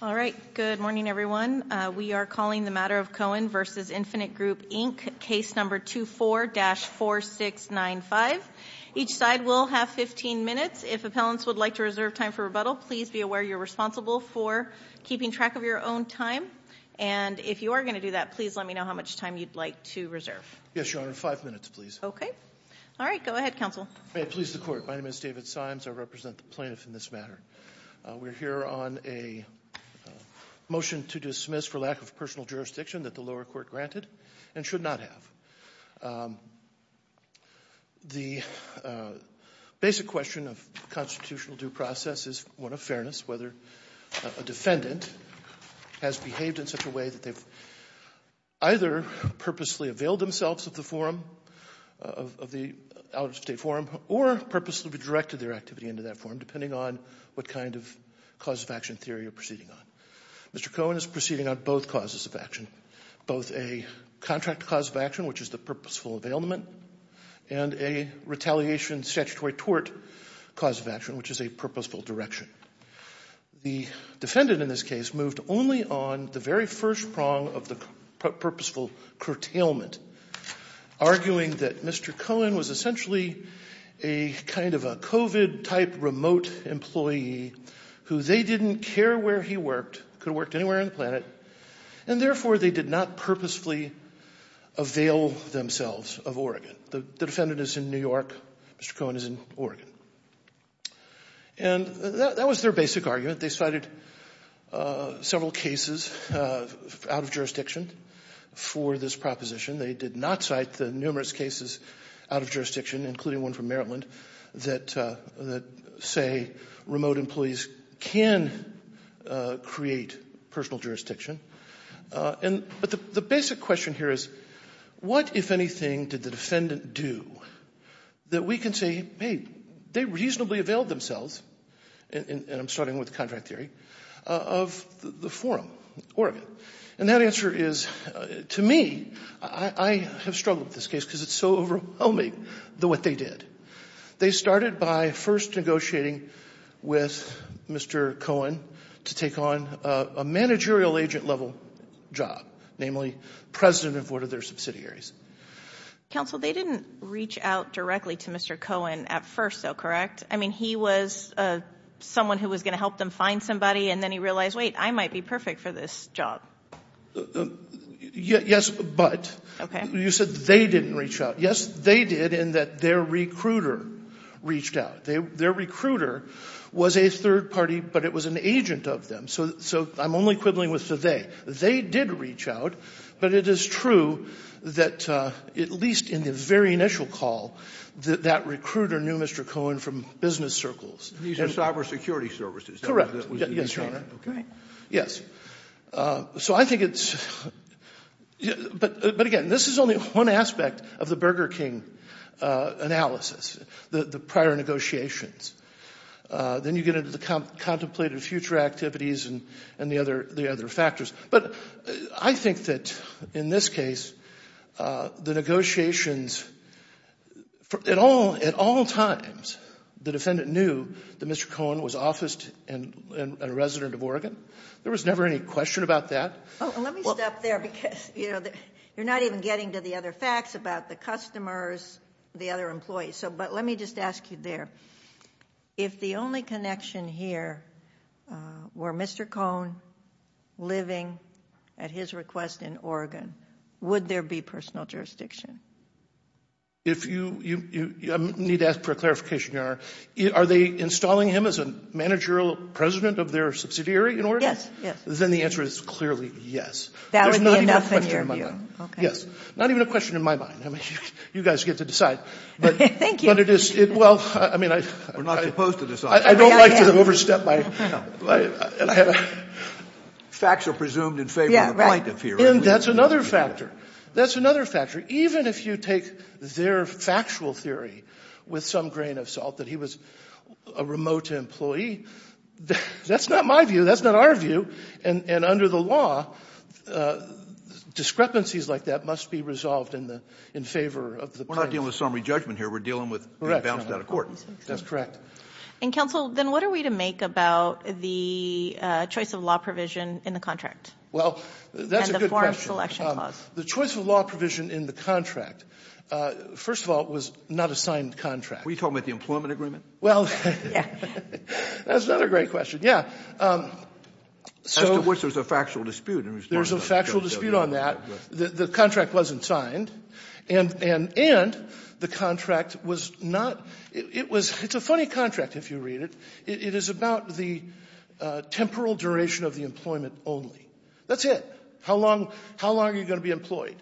All right. Good morning, everyone. We are calling the matter of Cohen v. Infinite Group, Inc., case number 24-4695. Each side will have 15 minutes. If appellants would like to reserve time for rebuttal, please be aware you're responsible for keeping track of your own time. And if you are going to do that, please let me know how much time you'd like to reserve. Yes, Your Honor. Five minutes, please. Okay. All right. Go ahead, counsel. May it please the Court. My name is David Symes. I represent the plaintiff in this matter. We're here on a motion to dismiss for lack of personal jurisdiction that the lower court granted and should not have. The basic question of constitutional due process is one of fairness, whether a defendant has behaved in such a way that they've either purposely availed themselves of the forum, of the out-of-state forum, or purposely redirected their activity into that depending on what kind of cause of action theory you're proceeding on. Mr. Cohen is proceeding on both causes of action, both a contract cause of action, which is the purposeful availment, and a retaliation statutory tort cause of action, which is a purposeful direction. The defendant in this case moved only on the very first prong of the purposeful curtailment, arguing that Mr. Cohen was essentially a kind of a COVID-type remote employee who they didn't care where he worked, could have worked anywhere on the planet, and therefore they did not purposefully avail themselves of Oregon. The defendant is in New York. Mr. Cohen is in Oregon. And that was their basic argument. They cited several cases out of jurisdiction for this proposition. They did not cite the numerous cases out of jurisdiction, including one from Maryland, that say remote employees can create personal jurisdiction. But the basic question here is what, if anything, did the defendant do that we can say, hey, they reasonably availed themselves, and I'm starting with contract theory, of the forum, Oregon. And that answer is, to me, I have struggled with this case because it's so overwhelming what they did. They started by first negotiating with Mr. Cohen to take on a managerial agent-level job, namely president of one of their subsidiaries. Counsel, they didn't reach out directly to Mr. Cohen at first, though, correct? I mean, he was someone who was going to help them find somebody, and then he realized, wait, I might be perfect for this job. Yes, but you said they didn't reach out. Yes, they did, in that their recruiter reached out. Their recruiter was a third party, but it was an agent of them. So I'm only quibbling with the they. They did reach out, but it is true that, at least in the very initial call, that recruiter knew Mr. Cohen from business circles. These are cyber security services. Correct. Yes, Your Honor. Okay. Yes. So I think it's, but again, this is only one aspect of the Burger King analysis, the prior negotiations. Then you get into the contemplated future activities and the other factors. But I think that in this case, the negotiations, at all times, the defendant knew that Mr. Cohen was officed and a resident of Oregon. There was never any question about that. Let me stop there because you're not even getting to the other facts about the customers, the other employees. But let me ask you there. If the only connection here were Mr. Cohen living at his request in Oregon, would there be personal jurisdiction? I need to ask for a clarification, Your Honor. Are they installing him as a managerial president of their subsidiary in Oregon? Yes. Then the answer is clearly yes. That would be enough in your view. Yes. Not even a question in my mind. You guys get to decide. Thank you. We're not supposed to decide. I don't like to overstep. Facts are presumed in favor of the plaintiff here. And that's another factor. That's another factor. Even if you take their factual theory with some grain of salt that he was a remote employee, that's not my view. That's not our view. And under the law, discrepancies like that must be resolved in favor of the plaintiff. We're not dealing with summary judgment here. We're dealing with being bounced out of court. That's correct. And counsel, then what are we to make about the choice of law provision in the contract? Well, that's a good question. And the form selection clause. The choice of law provision in the contract, first of all, was not a signed contract. Are we talking about the employment agreement? Well, that's another great question. Yeah. As to which there's a factual dispute on that. The contract wasn't signed. And the contract was not. It's a funny contract if you read it. It is about the temporal duration of the employment only. That's it. How long are you going to be employed?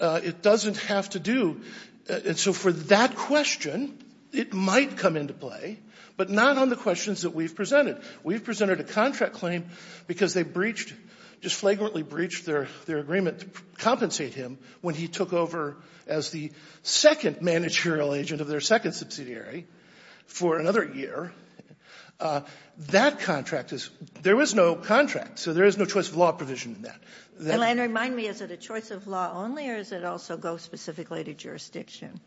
It doesn't have to do. And so for that question, it might come into play. But not on the questions that we've presented. We've presented a contract claim because they breached, just flagrantly breached their agreement to compensate him when he took over as the second managerial agent of their second subsidiary for another year. That contract is, there was no contract. So there is no choice of law provision in that. And remind me, is it a choice of law only or does it also go specifically to jurisdiction?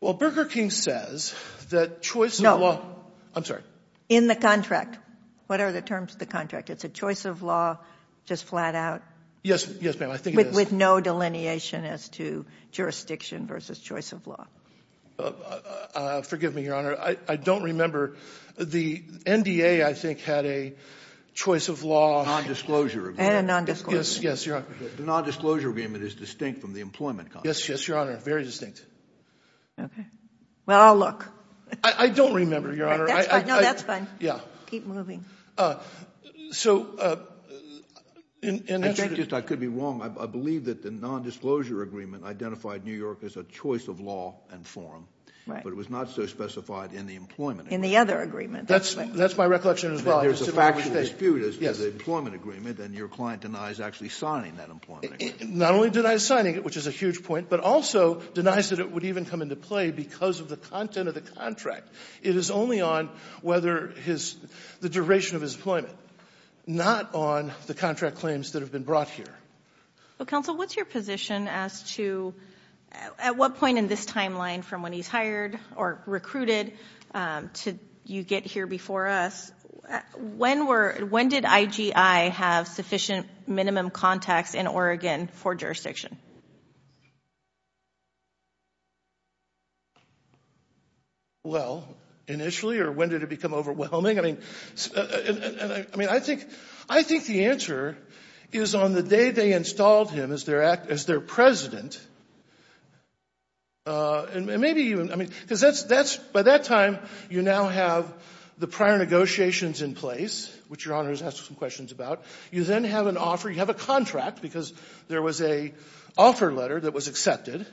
Well, Burger King says that choice of law. No. I'm sorry. In the contract. What are the terms of the contract? It's a choice of law, just flat out? Yes. Yes, ma'am. I think it is. With no delineation as to jurisdiction versus choice of law. Forgive me, Your Honor. I don't remember. The NDA, I think, had a choice of law. Non-disclosure agreement. And a non-disclosure agreement. Yes. Yes, Your Honor. The non-disclosure agreement is distinct from the employment contract. Yes. Yes, Your Honor. Very distinct. Okay. Well, I'll look. I don't remember, Your Honor. That's fine. No, that's fine. Yeah. Keep moving. So, I could be wrong. I believe that the non-disclosure agreement identified New York as a choice of law and forum, but it was not so specified in the employment agreement. In the other agreement. That's my recollection as well. There's a factual dispute as to the employment agreement, and your client denies actually signing that employment agreement. Not only denies signing it, which is a huge point, but also denies that it would even come into play because of the content of the contract. It is only on whether the duration of his employment, not on the contract claims that have been brought here. Well, counsel, what's your position as to at what point in this timeline from when he's hired or recruited to you get here before us? When did IGI have sufficient minimum contacts in Oregon for jurisdiction? Well, initially, or when did it become overwhelming? I mean, I think the answer is on the day they installed him as their president. By that time, you now have the prior negotiations in place, which Your Honor has asked some questions about. You then have an offer. You have a contract because there was an offer letter that was accepted.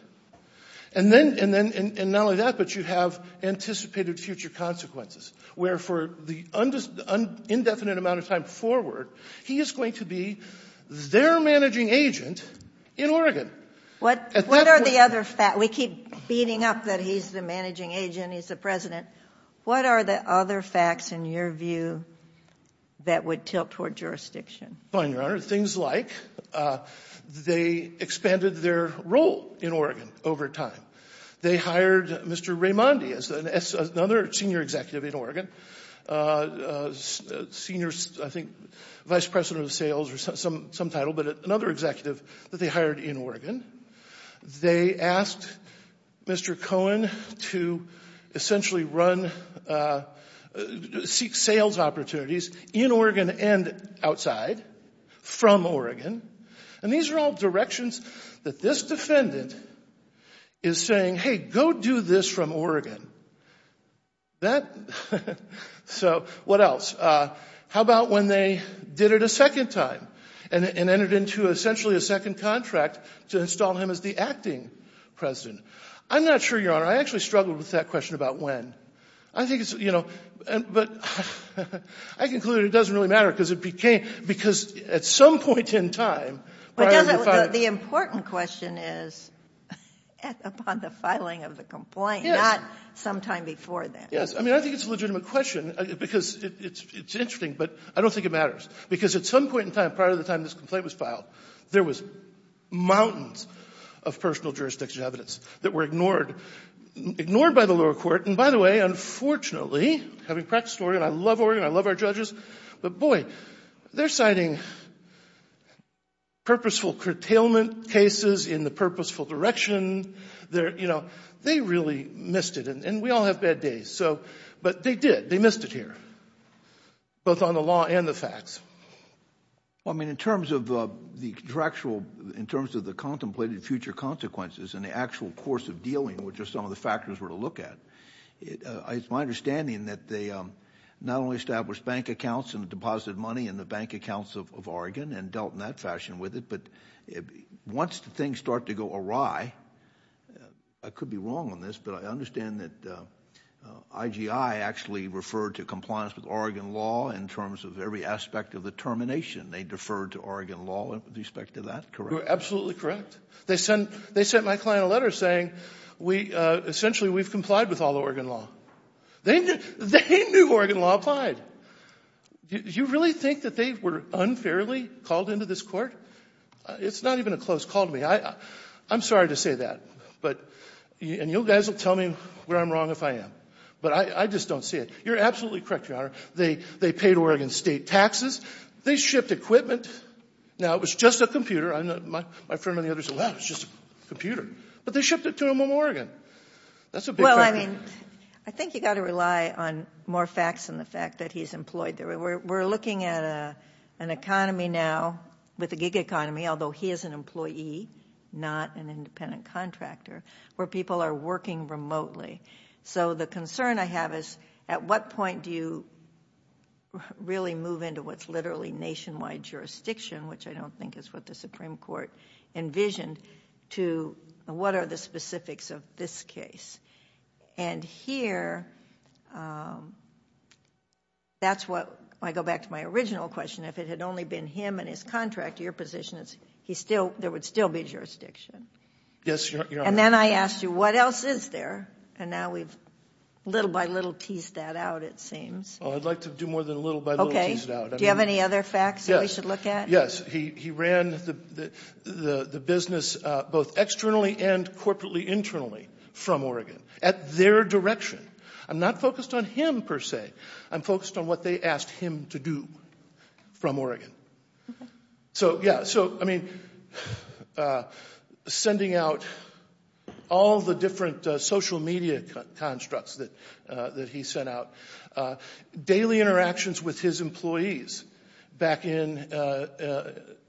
And then, and not only that, but you have anticipated future consequences, where for the indefinite amount of time forward, he is going to be their managing agent in Oregon. We keep beating up that he's the managing agent, he's the president. What are the other facts, in your view, that would tilt toward jurisdiction? Fine, Your Honor. Things like they expanded their role in Oregon over time. They hired Mr. Raimondi as another senior executive in Oregon, senior, I think, vice president of sales or some title, but another executive that they hired in Oregon. They asked Mr. Cohen to essentially run, seek sales opportunities in Oregon and outside from Oregon. These are all directions that this defendant is saying, hey, go do this from Oregon. What else? How about when they did it a second time and entered into essentially a second contract to install him as the acting president? I'm not sure, Your Honor. I actually struggled with that question about when. I think it's, you know, but I conclude it doesn't really matter because it became, because at some point in time, prior to the filing. The important question is upon the filing of the complaint, not sometime before that. Yes. I mean, I think it's a legitimate question because it's interesting, but I don't think it matters because at some point in time, prior to the time this complaint was filed, there was mountains of personal jurisdiction evidence that were ignored by the lower court. By the way, unfortunately, having practiced Oregon, I love Oregon, I love our judges, but boy, they're citing purposeful curtailment cases in the purposeful direction. They really missed it, and we all have bad days, but they did. They missed it here, both on the law and the facts. Well, I mean, in terms of the contractual, in terms of the contemplated future consequences and the actual course of dealing, which are some of the factors we're going to look at, it's my understanding that they not only established bank accounts and deposited money in the bank accounts of Oregon and dealt in that fashion with it, but once things start to go awry, I could be wrong on this, but I understand that IGI actually referred to compliance with Oregon law in terms of every aspect of the termination. They deferred to Oregon law with respect to that, correct? Absolutely correct. They sent my client a letter saying, essentially, we've complied with all the Oregon law. They knew Oregon law applied. You really think that they were unfairly called into this court? It's not even a close call to me. I'm sorry to say that, and you guys will tell me where I'm wrong if I am, but I just don't see it. You're absolutely correct, Your Honor. They paid Oregon state taxes. They shipped equipment. Now, it was just a computer. My friend and the other said, wow, it's just a computer, but they shipped it to him in That's a big factor. Well, I mean, I think you got to rely on more facts than the fact that he's employed there. We're looking at an economy now with a gig economy, although he is an employee, not an independent contractor, where people are working remotely. So the concern I have is, at what point do you really move into what's literally nationwide jurisdiction, which I don't think is what the Supreme Court envisioned, to what are the specifics of this case? And here, that's what I go back to my original question. If it had only been him and his contractor, your position is there would still be jurisdiction. Yes, Your Honor. And then I asked you, what else is there? And now we've little by little teased that out, it seems. Well, I'd like to do more than little by little tease it out. Do you have any other facts? Yes, he ran the business both externally and corporately internally from Oregon at their direction. I'm not focused on him, per se. I'm focused on what they asked him to do from Oregon. So, yeah, so, I mean, sending out all the different social media constructs that he sent out, daily interactions with his employees back in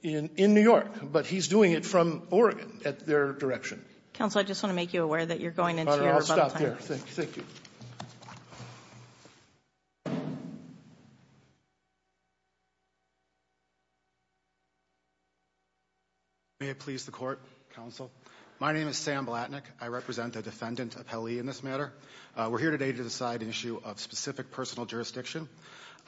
New York. But he's doing it from Oregon at their direction. Counsel, I just want to make you aware that you're going into your rebuttal time. All right, I'll stop there. Thank you, thank you. May it please the court, counsel. My name is Sam Blatnick. I represent the defendant appellee in this matter. We're here today to decide an issue of specific personal jurisdiction.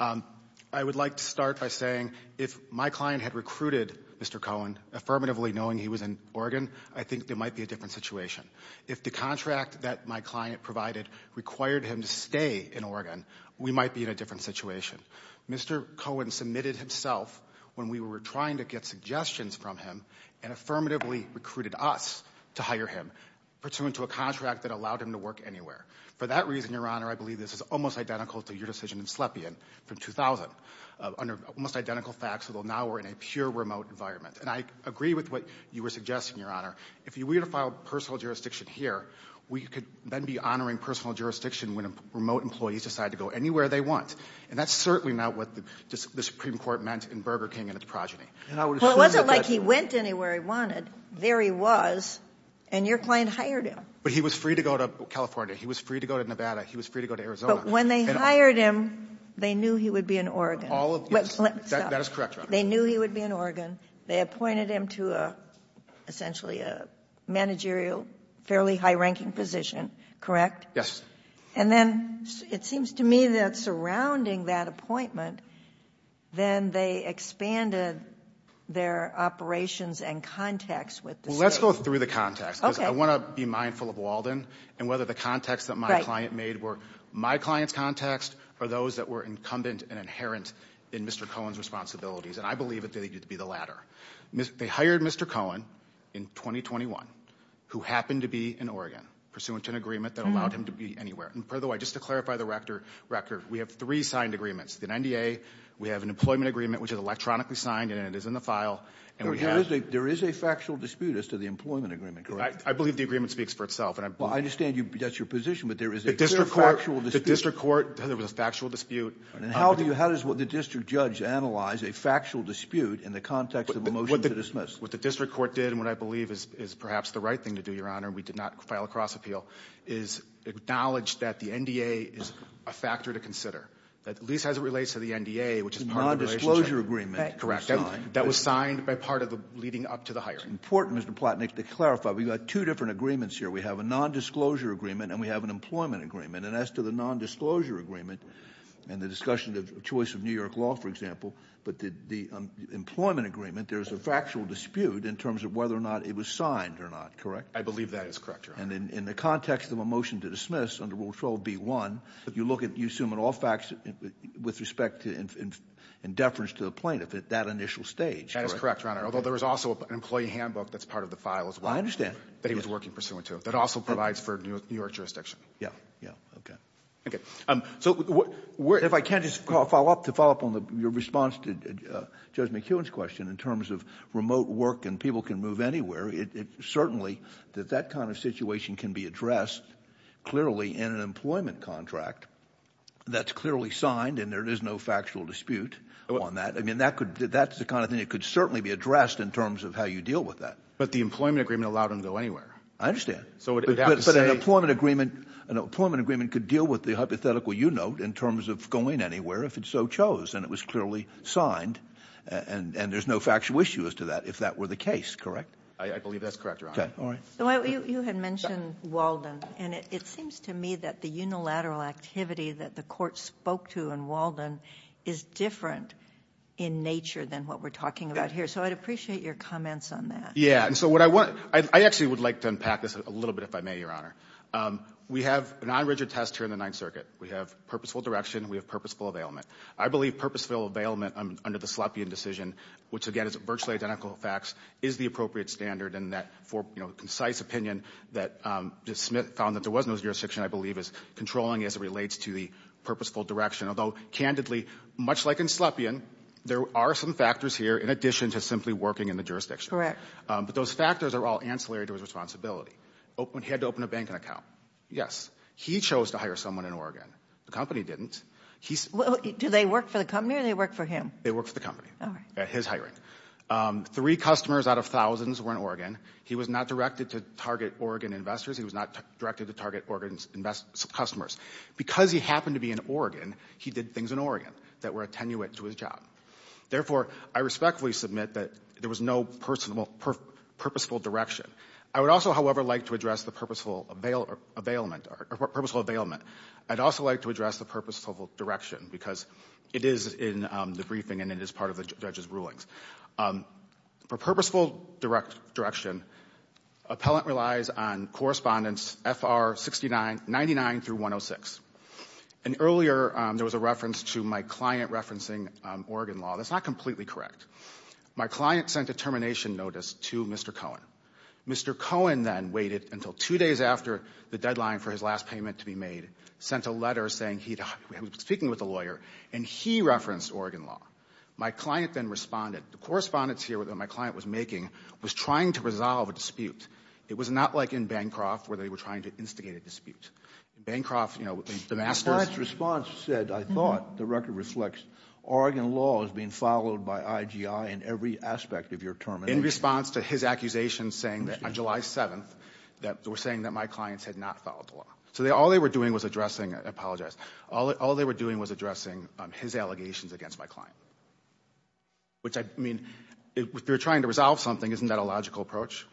I would like to start by saying if my client had recruited Mr. Cohen, affirmatively knowing he was in Oregon, I think there might be a different situation. If the contract that my client provided required him to stay in Oregon, we might be in a different situation. Mr. Cohen submitted himself when we were trying to get suggestions from him and affirmatively recruited us to hire him, pursuant to a contract that allowed him to work anywhere. For that reason, Your Honor, I believe this is almost identical to your decision in Slepian from 2000. Under almost identical facts, although now we're in a pure remote environment. And I agree with what you were suggesting, Your Honor. If we were to file personal jurisdiction here, we could then be honoring personal jurisdiction when remote employees decide to go anywhere they want. And that's certainly not what the Supreme Court meant in Burger King and its progeny. Well, it wasn't like he went anywhere he wanted. There he was. And your client hired him. But he was free to go to California. He was free to go to Nevada. He was free to go to Arizona. But when they hired him, they knew he would be in Oregon. All of this. That is correct, Your Honor. They knew he would be in Oregon. They appointed him to essentially a managerial, fairly high-ranking position, correct? Yes. And then it seems to me that surrounding that appointment, then they expanded their operations and context with the state. Well, let's go through the context because I want to be mindful of Walden and whether the context that my client made were my client's context or those that were incumbent and inherent in Mr. Cohen's responsibilities. And I believe it needed to be the latter. They hired Mr. Cohen in 2021, who happened to be in Oregon, pursuant to an agreement that allowed him to be anywhere. And by the way, just to clarify the record, we have three signed agreements. The NDA, we have an employment agreement, which is electronically signed, and it is in the file. There is a factual dispute as to the employment agreement, correct? I believe the agreement speaks for itself. I understand that's your position, but there is a clear factual dispute. The district court, there was a factual dispute. And how does the district judge analyze a factual dispute in the context of a motion to dismiss? What the district court did and what I believe is perhaps the right thing to do, Your Honor, we did not file a cross-appeal, is acknowledge that the NDA is a factor to consider, that at least as it relates to the NDA, which is part of the relationship. The nondisclosure agreement. Correct. That was signed by part of the leading up to the hiring. Important, Mr. Plotnick, to clarify. We've got two different agreements here. We have a nondisclosure agreement and we have an employment agreement. And as to the nondisclosure agreement and the discussion of choice of New York law, for example, but the employment agreement, there's a factual dispute in terms of whether or not it was signed or not, correct? I believe that is correct, Your Honor. And in the context of a motion to dismiss under Rule 12b-1, you look at, you assume in all facts with respect to in deference to the plaintiff at that initial stage, correct? That is correct, Your Honor. Although there was also an employee handbook that's part of the file as well. I understand. That he was working pursuant to. That also provides for New York jurisdiction. Yeah, yeah, okay. Okay, so if I can just follow up to follow up on your response to Judge McEwen's question in terms of remote work and people can move anywhere, certainly that that kind of situation can be addressed clearly in an employment contract that's clearly signed and there is no factual dispute on that. I mean, that's the kind of thing that could certainly be addressed in terms of how you deal with that. But the employment agreement allowed him to go anywhere. I understand. But an employment agreement could deal with the hypothetical you note in terms of going anywhere if it so chose and it was clearly signed and there's no factual issue as to that if that were the case, correct? I believe that's correct, Your Honor. Okay, all right. So you had mentioned Walden and it seems to me that the unilateral activity that the court spoke to in Walden is different in nature than what we're talking about here. So I'd appreciate your comments on that. Yeah, and so what I want, I actually would like to unpack this a little bit if I may, Your Honor. We have a non-rigid test here in the Ninth Circuit. We have purposeful direction. We have purposeful availment. I believe purposeful availment under the Sloppian decision, which again is virtually identical facts, is the appropriate standard and that for, you know, concise opinion that Smith found that there was no jurisdiction, I believe is controlling as it relates to the purposeful direction. Although candidly, much like in Sloppian, there are some factors here in addition to simply working in the jurisdiction. But those factors are all ancillary to his responsibility. He had to open a banking account. Yes. He chose to hire someone in Oregon. The company didn't. Do they work for the company or they work for him? They work for the company. His hiring. Three customers out of thousands were in Oregon. He was not directed to target Oregon investors. He was not directed to target Oregon's customers. Because he happened to be in Oregon, he did things in Oregon that were attenuate to his job. Therefore, I respectfully submit that there was no purposeful direction. I would also, however, like to address the purposeful availment. I'd also like to address the purposeful direction because it is in the briefing and it is part of the judge's rulings. For purposeful direction, appellant relies on correspondence FR 99 through 106. And earlier, there was a reference to my client referencing Oregon law. That's not completely correct. My client sent a termination notice to Mr. Cohen. Mr. Cohen then waited until two days after the deadline for his last payment to be made, sent a letter saying he was speaking with a lawyer and he referenced Oregon law. My client then responded. The correspondence here that my client was making was trying to resolve a dispute. It was not like in Bancroft where they were trying to instigate a dispute. Bancroft, you know, the master's response said, I thought the record reflects Oregon law is being followed by IGI in every aspect of your term. In response to his accusation saying that on July 7th, that they were saying that my clients had not followed the law. So all they were doing was addressing, I apologize, all they were doing was addressing his allegations against my client. Which I mean, if you're trying to resolve something, isn't that a logical approach?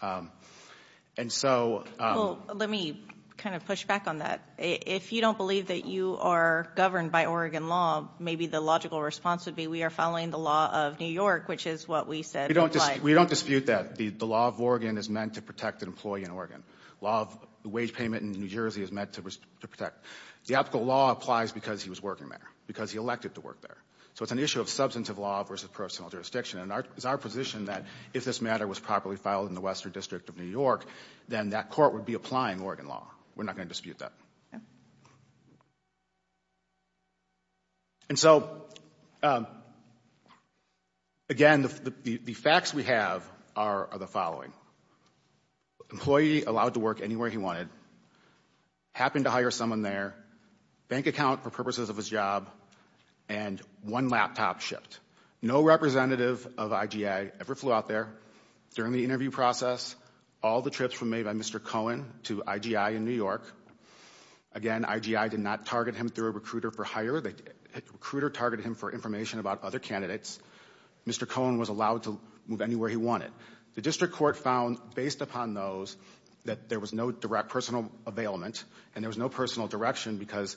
And so, Let me kind of push back on that. If you don't believe that you are governed by Oregon law, maybe the logical response would be we are following the law of New York, which is what we said. We don't dispute that. The law of Oregon is meant to protect an employee in Oregon. Law of the wage payment in New Jersey is meant to protect. The optical law applies because he was working there, because he elected to work there. So it's an issue of substantive law versus personal jurisdiction. And it's our position that if this matter was properly filed in the Western District of New York, then that court would be applying Oregon law. We're not going to dispute that. And so, again, the facts we have are the following. Employee allowed to work anywhere he wanted, happened to hire someone there, bank account for purposes of his job, and one laptop shipped. No representative of IGI ever flew out there. During the interview process, all the trips were made by Mr. Cohen to IGI in New York. Again, IGI did not target him through a recruiter for hire. The recruiter targeted him for information about other candidates. Mr. Cohen was allowed to move anywhere he wanted. The district court found, based upon those, that there was no direct personal availment, and there was no personal direction, because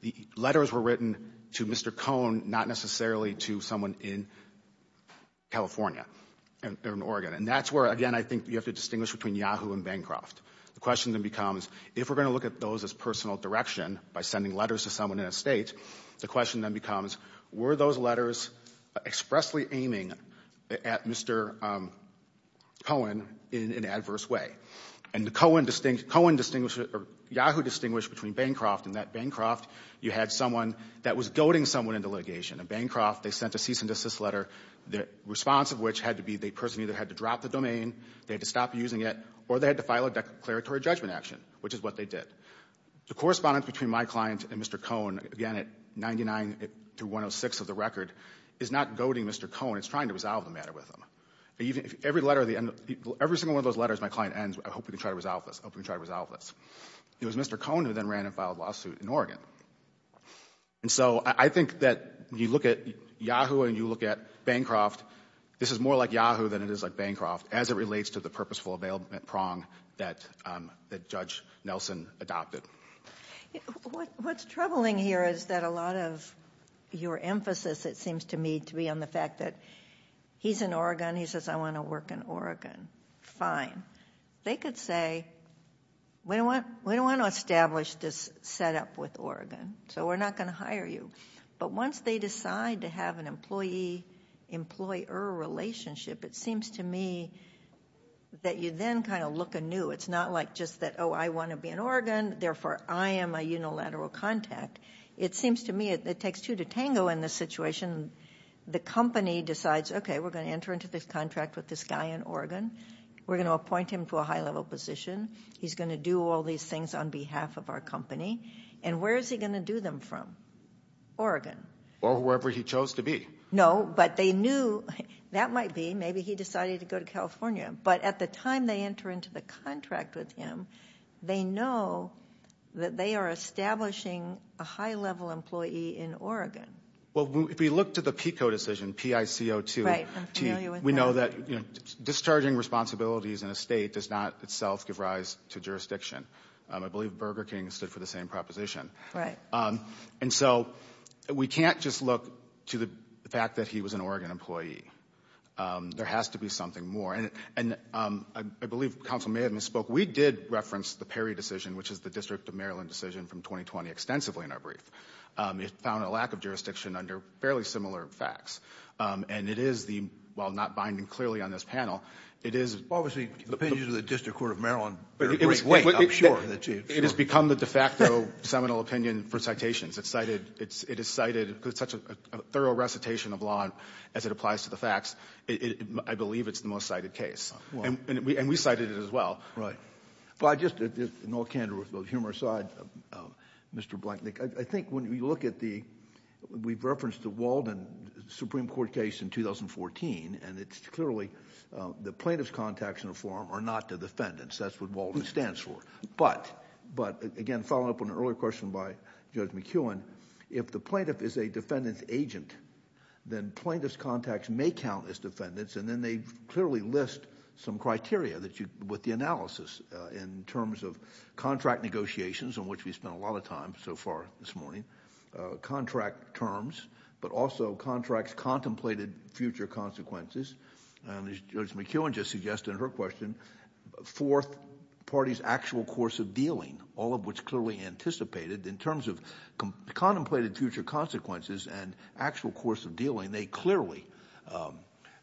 the letters were written to Mr. Cohen, not necessarily to someone in California or in Oregon. And that's where, again, I think you have to distinguish between Yahoo and Bancroft. The question then becomes, if we're going to look at those as personal direction by sending letters to someone in a state, the question then becomes, were those letters expressly aiming at Mr. Cohen in an adverse way? And the Cohen distinguished or Yahoo distinguished between Bancroft and that Bancroft, you had someone that was goading someone into litigation. At Bancroft, they sent a cease and desist letter, the response of which had to be, the person either had to drop the domain, they had to stop using it, or they had to file a declaratory judgment action, which is what they did. The correspondence between my client and Mr. Cohen, again, at 99 to 106 of the record, is not goading Mr. Cohen, it's trying to resolve the matter with him. Every single one of those letters my client ends, I hope we can try to resolve this, I hope we can try to resolve this. It was Mr. Cohen who then ran and filed a lawsuit in Oregon. And so I think that you look at Yahoo and you look at Bancroft, this is more like Yahoo than it is like Bancroft, as it relates to the purposeful availment prong that Judge Nelson adopted. What's troubling here is that a lot of your emphasis, it seems to me, to be on the fact that he's in Oregon, he says, I want to work in Oregon, fine. They could say, we don't want to establish this setup with Oregon, so we're not going to hire you. But once they decide to have an employee-employer relationship, it seems to me that you then kind of look anew. It's not like just that, oh, I want to be in Oregon, therefore I am a unilateral contact. It seems to me it takes two to tango in this situation. The company decides, okay, we're going to enter into this contract with this guy in Oregon. We're going to appoint him to a high-level position. He's going to do all these things on behalf of our company. And where is he going to do them from? Oregon. Or wherever he chose to be. No, but they knew, that might be, maybe he decided to go to California. But at the time they enter into the contract with him, they know that they are establishing a high-level employee in Oregon. Well, if we look to the PICO decision, P-I-C-O-2. Right, I'm familiar with that. We know that discharging responsibilities in a state does not itself give rise to jurisdiction. I believe Burger King stood for the same proposition. Right. And so we can't just look to the fact that he was an Oregon employee. There has to be something more. And I believe Councilman May had misspoke. We did reference the Perry decision, which is the District of Maryland decision from 2020 extensively in our brief. It found a lack of jurisdiction under fairly similar facts. And it is the, while not binding clearly on this panel, it is... Obviously, the opinions of the District Court of Maryland are great. Wait, I'm sure that you... It has become the de facto seminal opinion for citations. It is cited, because it's such a thorough recitation of law as it applies to the facts. I believe it's the most cited case. And we cited it as well. But I just, in all candor with both humor aside, Mr. Blanknecht, I think when we look at the... We've referenced the Walden Supreme Court case in 2014, and it's clearly the plaintiff's contacts in the form are not the defendants. That's what Walden stands for. But, again, following up on an earlier question by Judge McKeown, if the plaintiff is a defendant's agent, then plaintiff's contacts may count as defendants, and then they clearly list some criteria that you... With the analysis in terms of contract negotiations, on which we spent a lot of time so far this morning, contract terms, but also contracts contemplated future consequences. And as Judge McKeown just suggested in her question, fourth party's actual course of dealing, all of which clearly anticipated in terms of contemplated future consequences and actual course of dealing, they clearly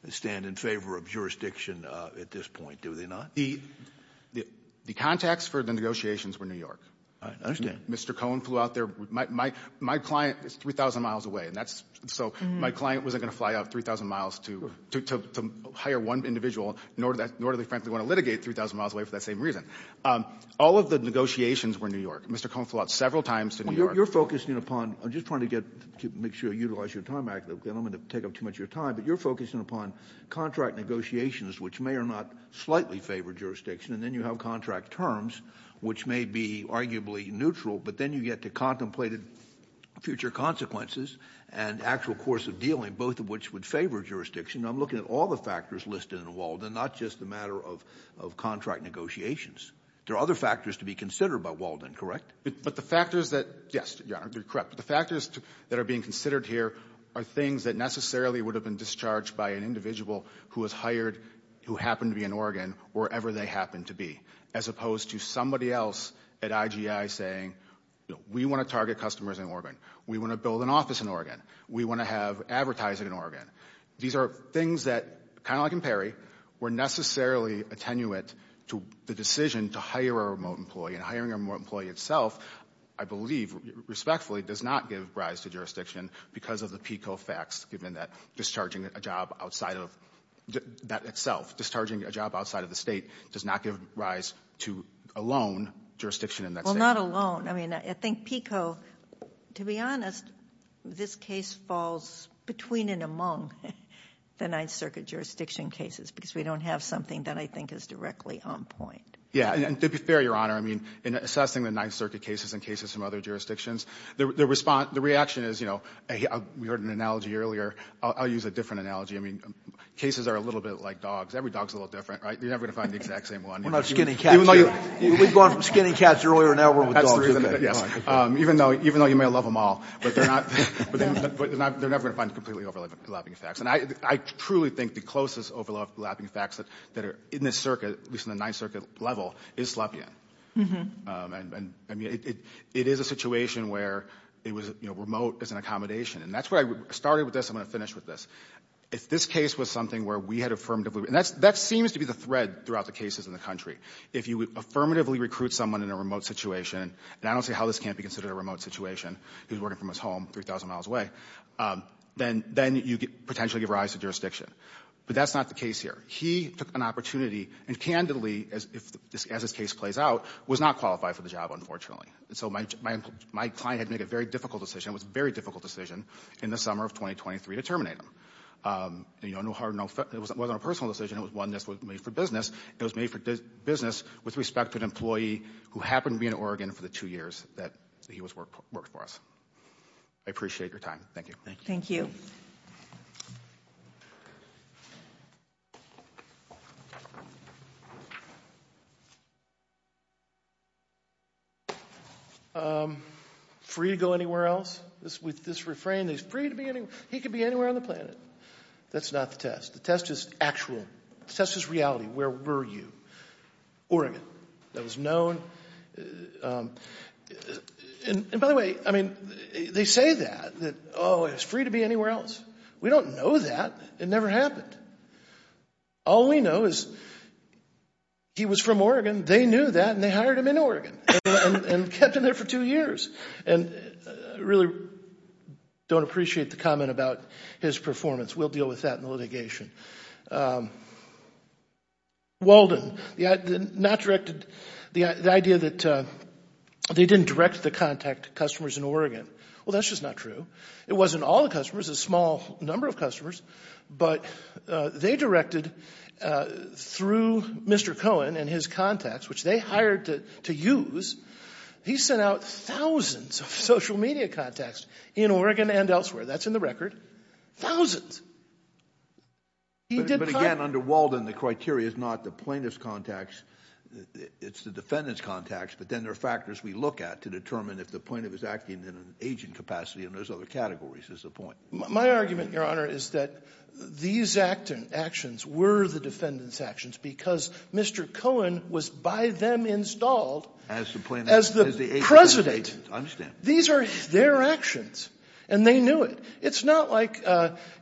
stand in favor of jurisdiction at this point, do they not? The contacts for the negotiations were New York. I understand. Mr. Cohen flew out there. My client is 3,000 miles away, and that's... So my client wasn't going to fly out 3,000 miles to hire one individual, nor do they frankly want to litigate 3,000 miles away for that same reason. All of the negotiations were New York. Mr. Cohen flew out several times to New York. You're focusing upon... I'm just trying to get... Make sure you utilize your time accurately. I don't want to take up too much of your time, but you're focusing upon contract negotiations, which may or not slightly favor jurisdiction, and then you have contract terms, which may be arguably neutral, but then you get to contemplated future consequences and actual course of dealing, both of which would favor jurisdiction. I'm looking at all the factors listed in Walden, not just the matter of contract negotiations. There are other factors to be considered by Walden, correct? But the factors that... Yes, you're correct. The factors that are being considered here are things that necessarily would have been discharged by an individual who was hired, who happened to be in Oregon, wherever they happened to be, as opposed to somebody else at IGI saying, we want to target customers in Oregon. We want to build an office in Oregon. We want to have advertising in Oregon. These are things that, kind of like in Perry, were necessarily attenuate to the decision to hire a remote employee, and hiring a remote employee itself, I believe, respectfully, does not give rise to jurisdiction because of the PICO facts, given that discharging a job outside of that itself, discharging a job outside of the state, does not give rise to alone jurisdiction in that state. Well, not alone. I mean, I think PICO, to be honest, this case falls between and among the Ninth Circuit jurisdiction cases, because we don't have something that I think is directly on point. Yeah, and to be fair, Your Honor, in assessing the Ninth Circuit cases and cases from other jurisdictions, the reaction is, you know, we heard an analogy earlier. I'll use a different analogy. I mean, cases are a little bit like dogs. Every dog's a little different, right? You're never going to find the exact same one. We're not skinning cats here. We've gone from skinning cats earlier, and now we're with dogs. Yes, even though you may love them all, but they're never going to find completely overlapping facts. And I truly think the closest overlapping facts that are in this circuit, at least in the Ninth Circuit level, is Slepian. And I mean, it is a situation where it was, you know, remote as an accommodation. And that's where I started with this. I'm going to finish with this. If this case was something where we had affirmatively, and that seems to be the thread throughout the cases in the country. If you affirmatively recruit someone in a remote situation, and I don't see how this can't be considered a remote situation. He was working from his home 3,000 miles away. Then you could potentially give rise to jurisdiction. But that's not the case here. He took an opportunity, and candidly, as this case plays out, was not qualified for the job, unfortunately. So my client had to make a very difficult decision. It was a very difficult decision in the summer of 2023 to terminate him. It wasn't a personal decision. It was one that was made for business. It was made for business with respect to an employee who happened to be in Oregon for the two years that he worked for us. I appreciate your time. Thank you. Thank you. Free to go anywhere else? With this refrain, he's free to be anywhere. He could be anywhere on the planet. That's not the test. The test is actual. The test is reality. Where were you? Oregon. That was known. And by the way, I mean, they say that. That, oh, he's free to be anywhere else. We don't know that. It never happened. All we know is he was from Oregon. They knew that. And they hired him in Oregon and kept him there for two years. And I really don't appreciate the comment about his performance. We'll deal with that in the litigation. Walden, the idea that they didn't direct the contact customers in Oregon. Well, that's just not true. It wasn't all the customers, a small number of customers. But they directed through Mr. Cohen and his contacts, which they hired to use. He sent out thousands of social media contacts in Oregon and elsewhere. That's in the record. Thousands. But again, under Walden, the criteria is not the plaintiff's contacts. It's the defendant's contacts. But then there are factors we look at to determine if the plaintiff is acting in an aging capacity and there's other categories is the point. My argument, Your Honor, is that these actions were the defendant's actions because Mr. Cohen was by them installed as the president. These are their actions. And they knew it. It's not like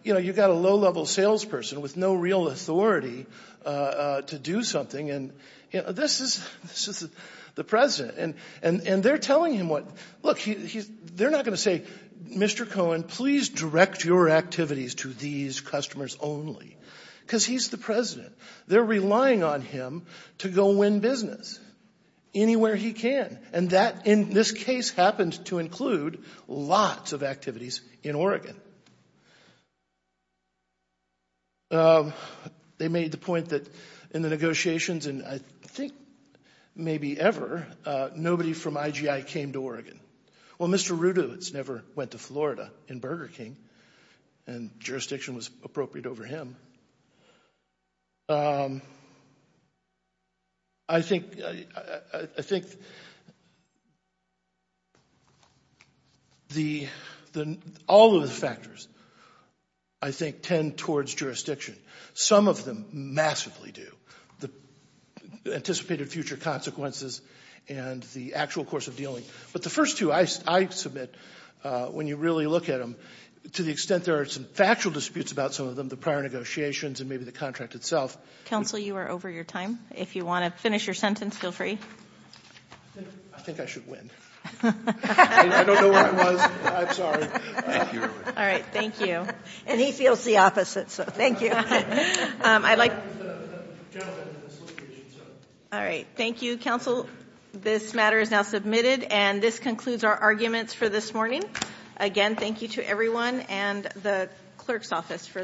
you've got a low-level salesperson with no real authority to do something. And this is the president. And they're telling him what. Look, they're not going to say, Mr. Cohen, please direct your activities to these customers only because he's the president. They're relying on him to go win business anywhere he can. And that, in this case, happened to include lots of activities in Oregon. They made the point that in the negotiations, and I think maybe ever, nobody from IGI came to Oregon. Well, Mr. Rudowitz never went to Florida in Burger King. And jurisdiction was appropriate over him. I think all of the factors, I think, tend towards jurisdiction. Some of them massively do. The anticipated future consequences and the actual course of dealing. But the first two, I submit, when you really look at them, to the extent there are some factual disputes about some of them, the prior negotiations and maybe the contract itself. Counsel, you are over your time. If you want to finish your sentence, feel free. I think I should win. I don't know where I was. I'm sorry. All right. Thank you. And he feels the opposite. So thank you. I'd like. All right. Thank you, counsel. This matter is now submitted. And this concludes our arguments for this morning. Again, thank you to everyone and the clerk's office for their assistance.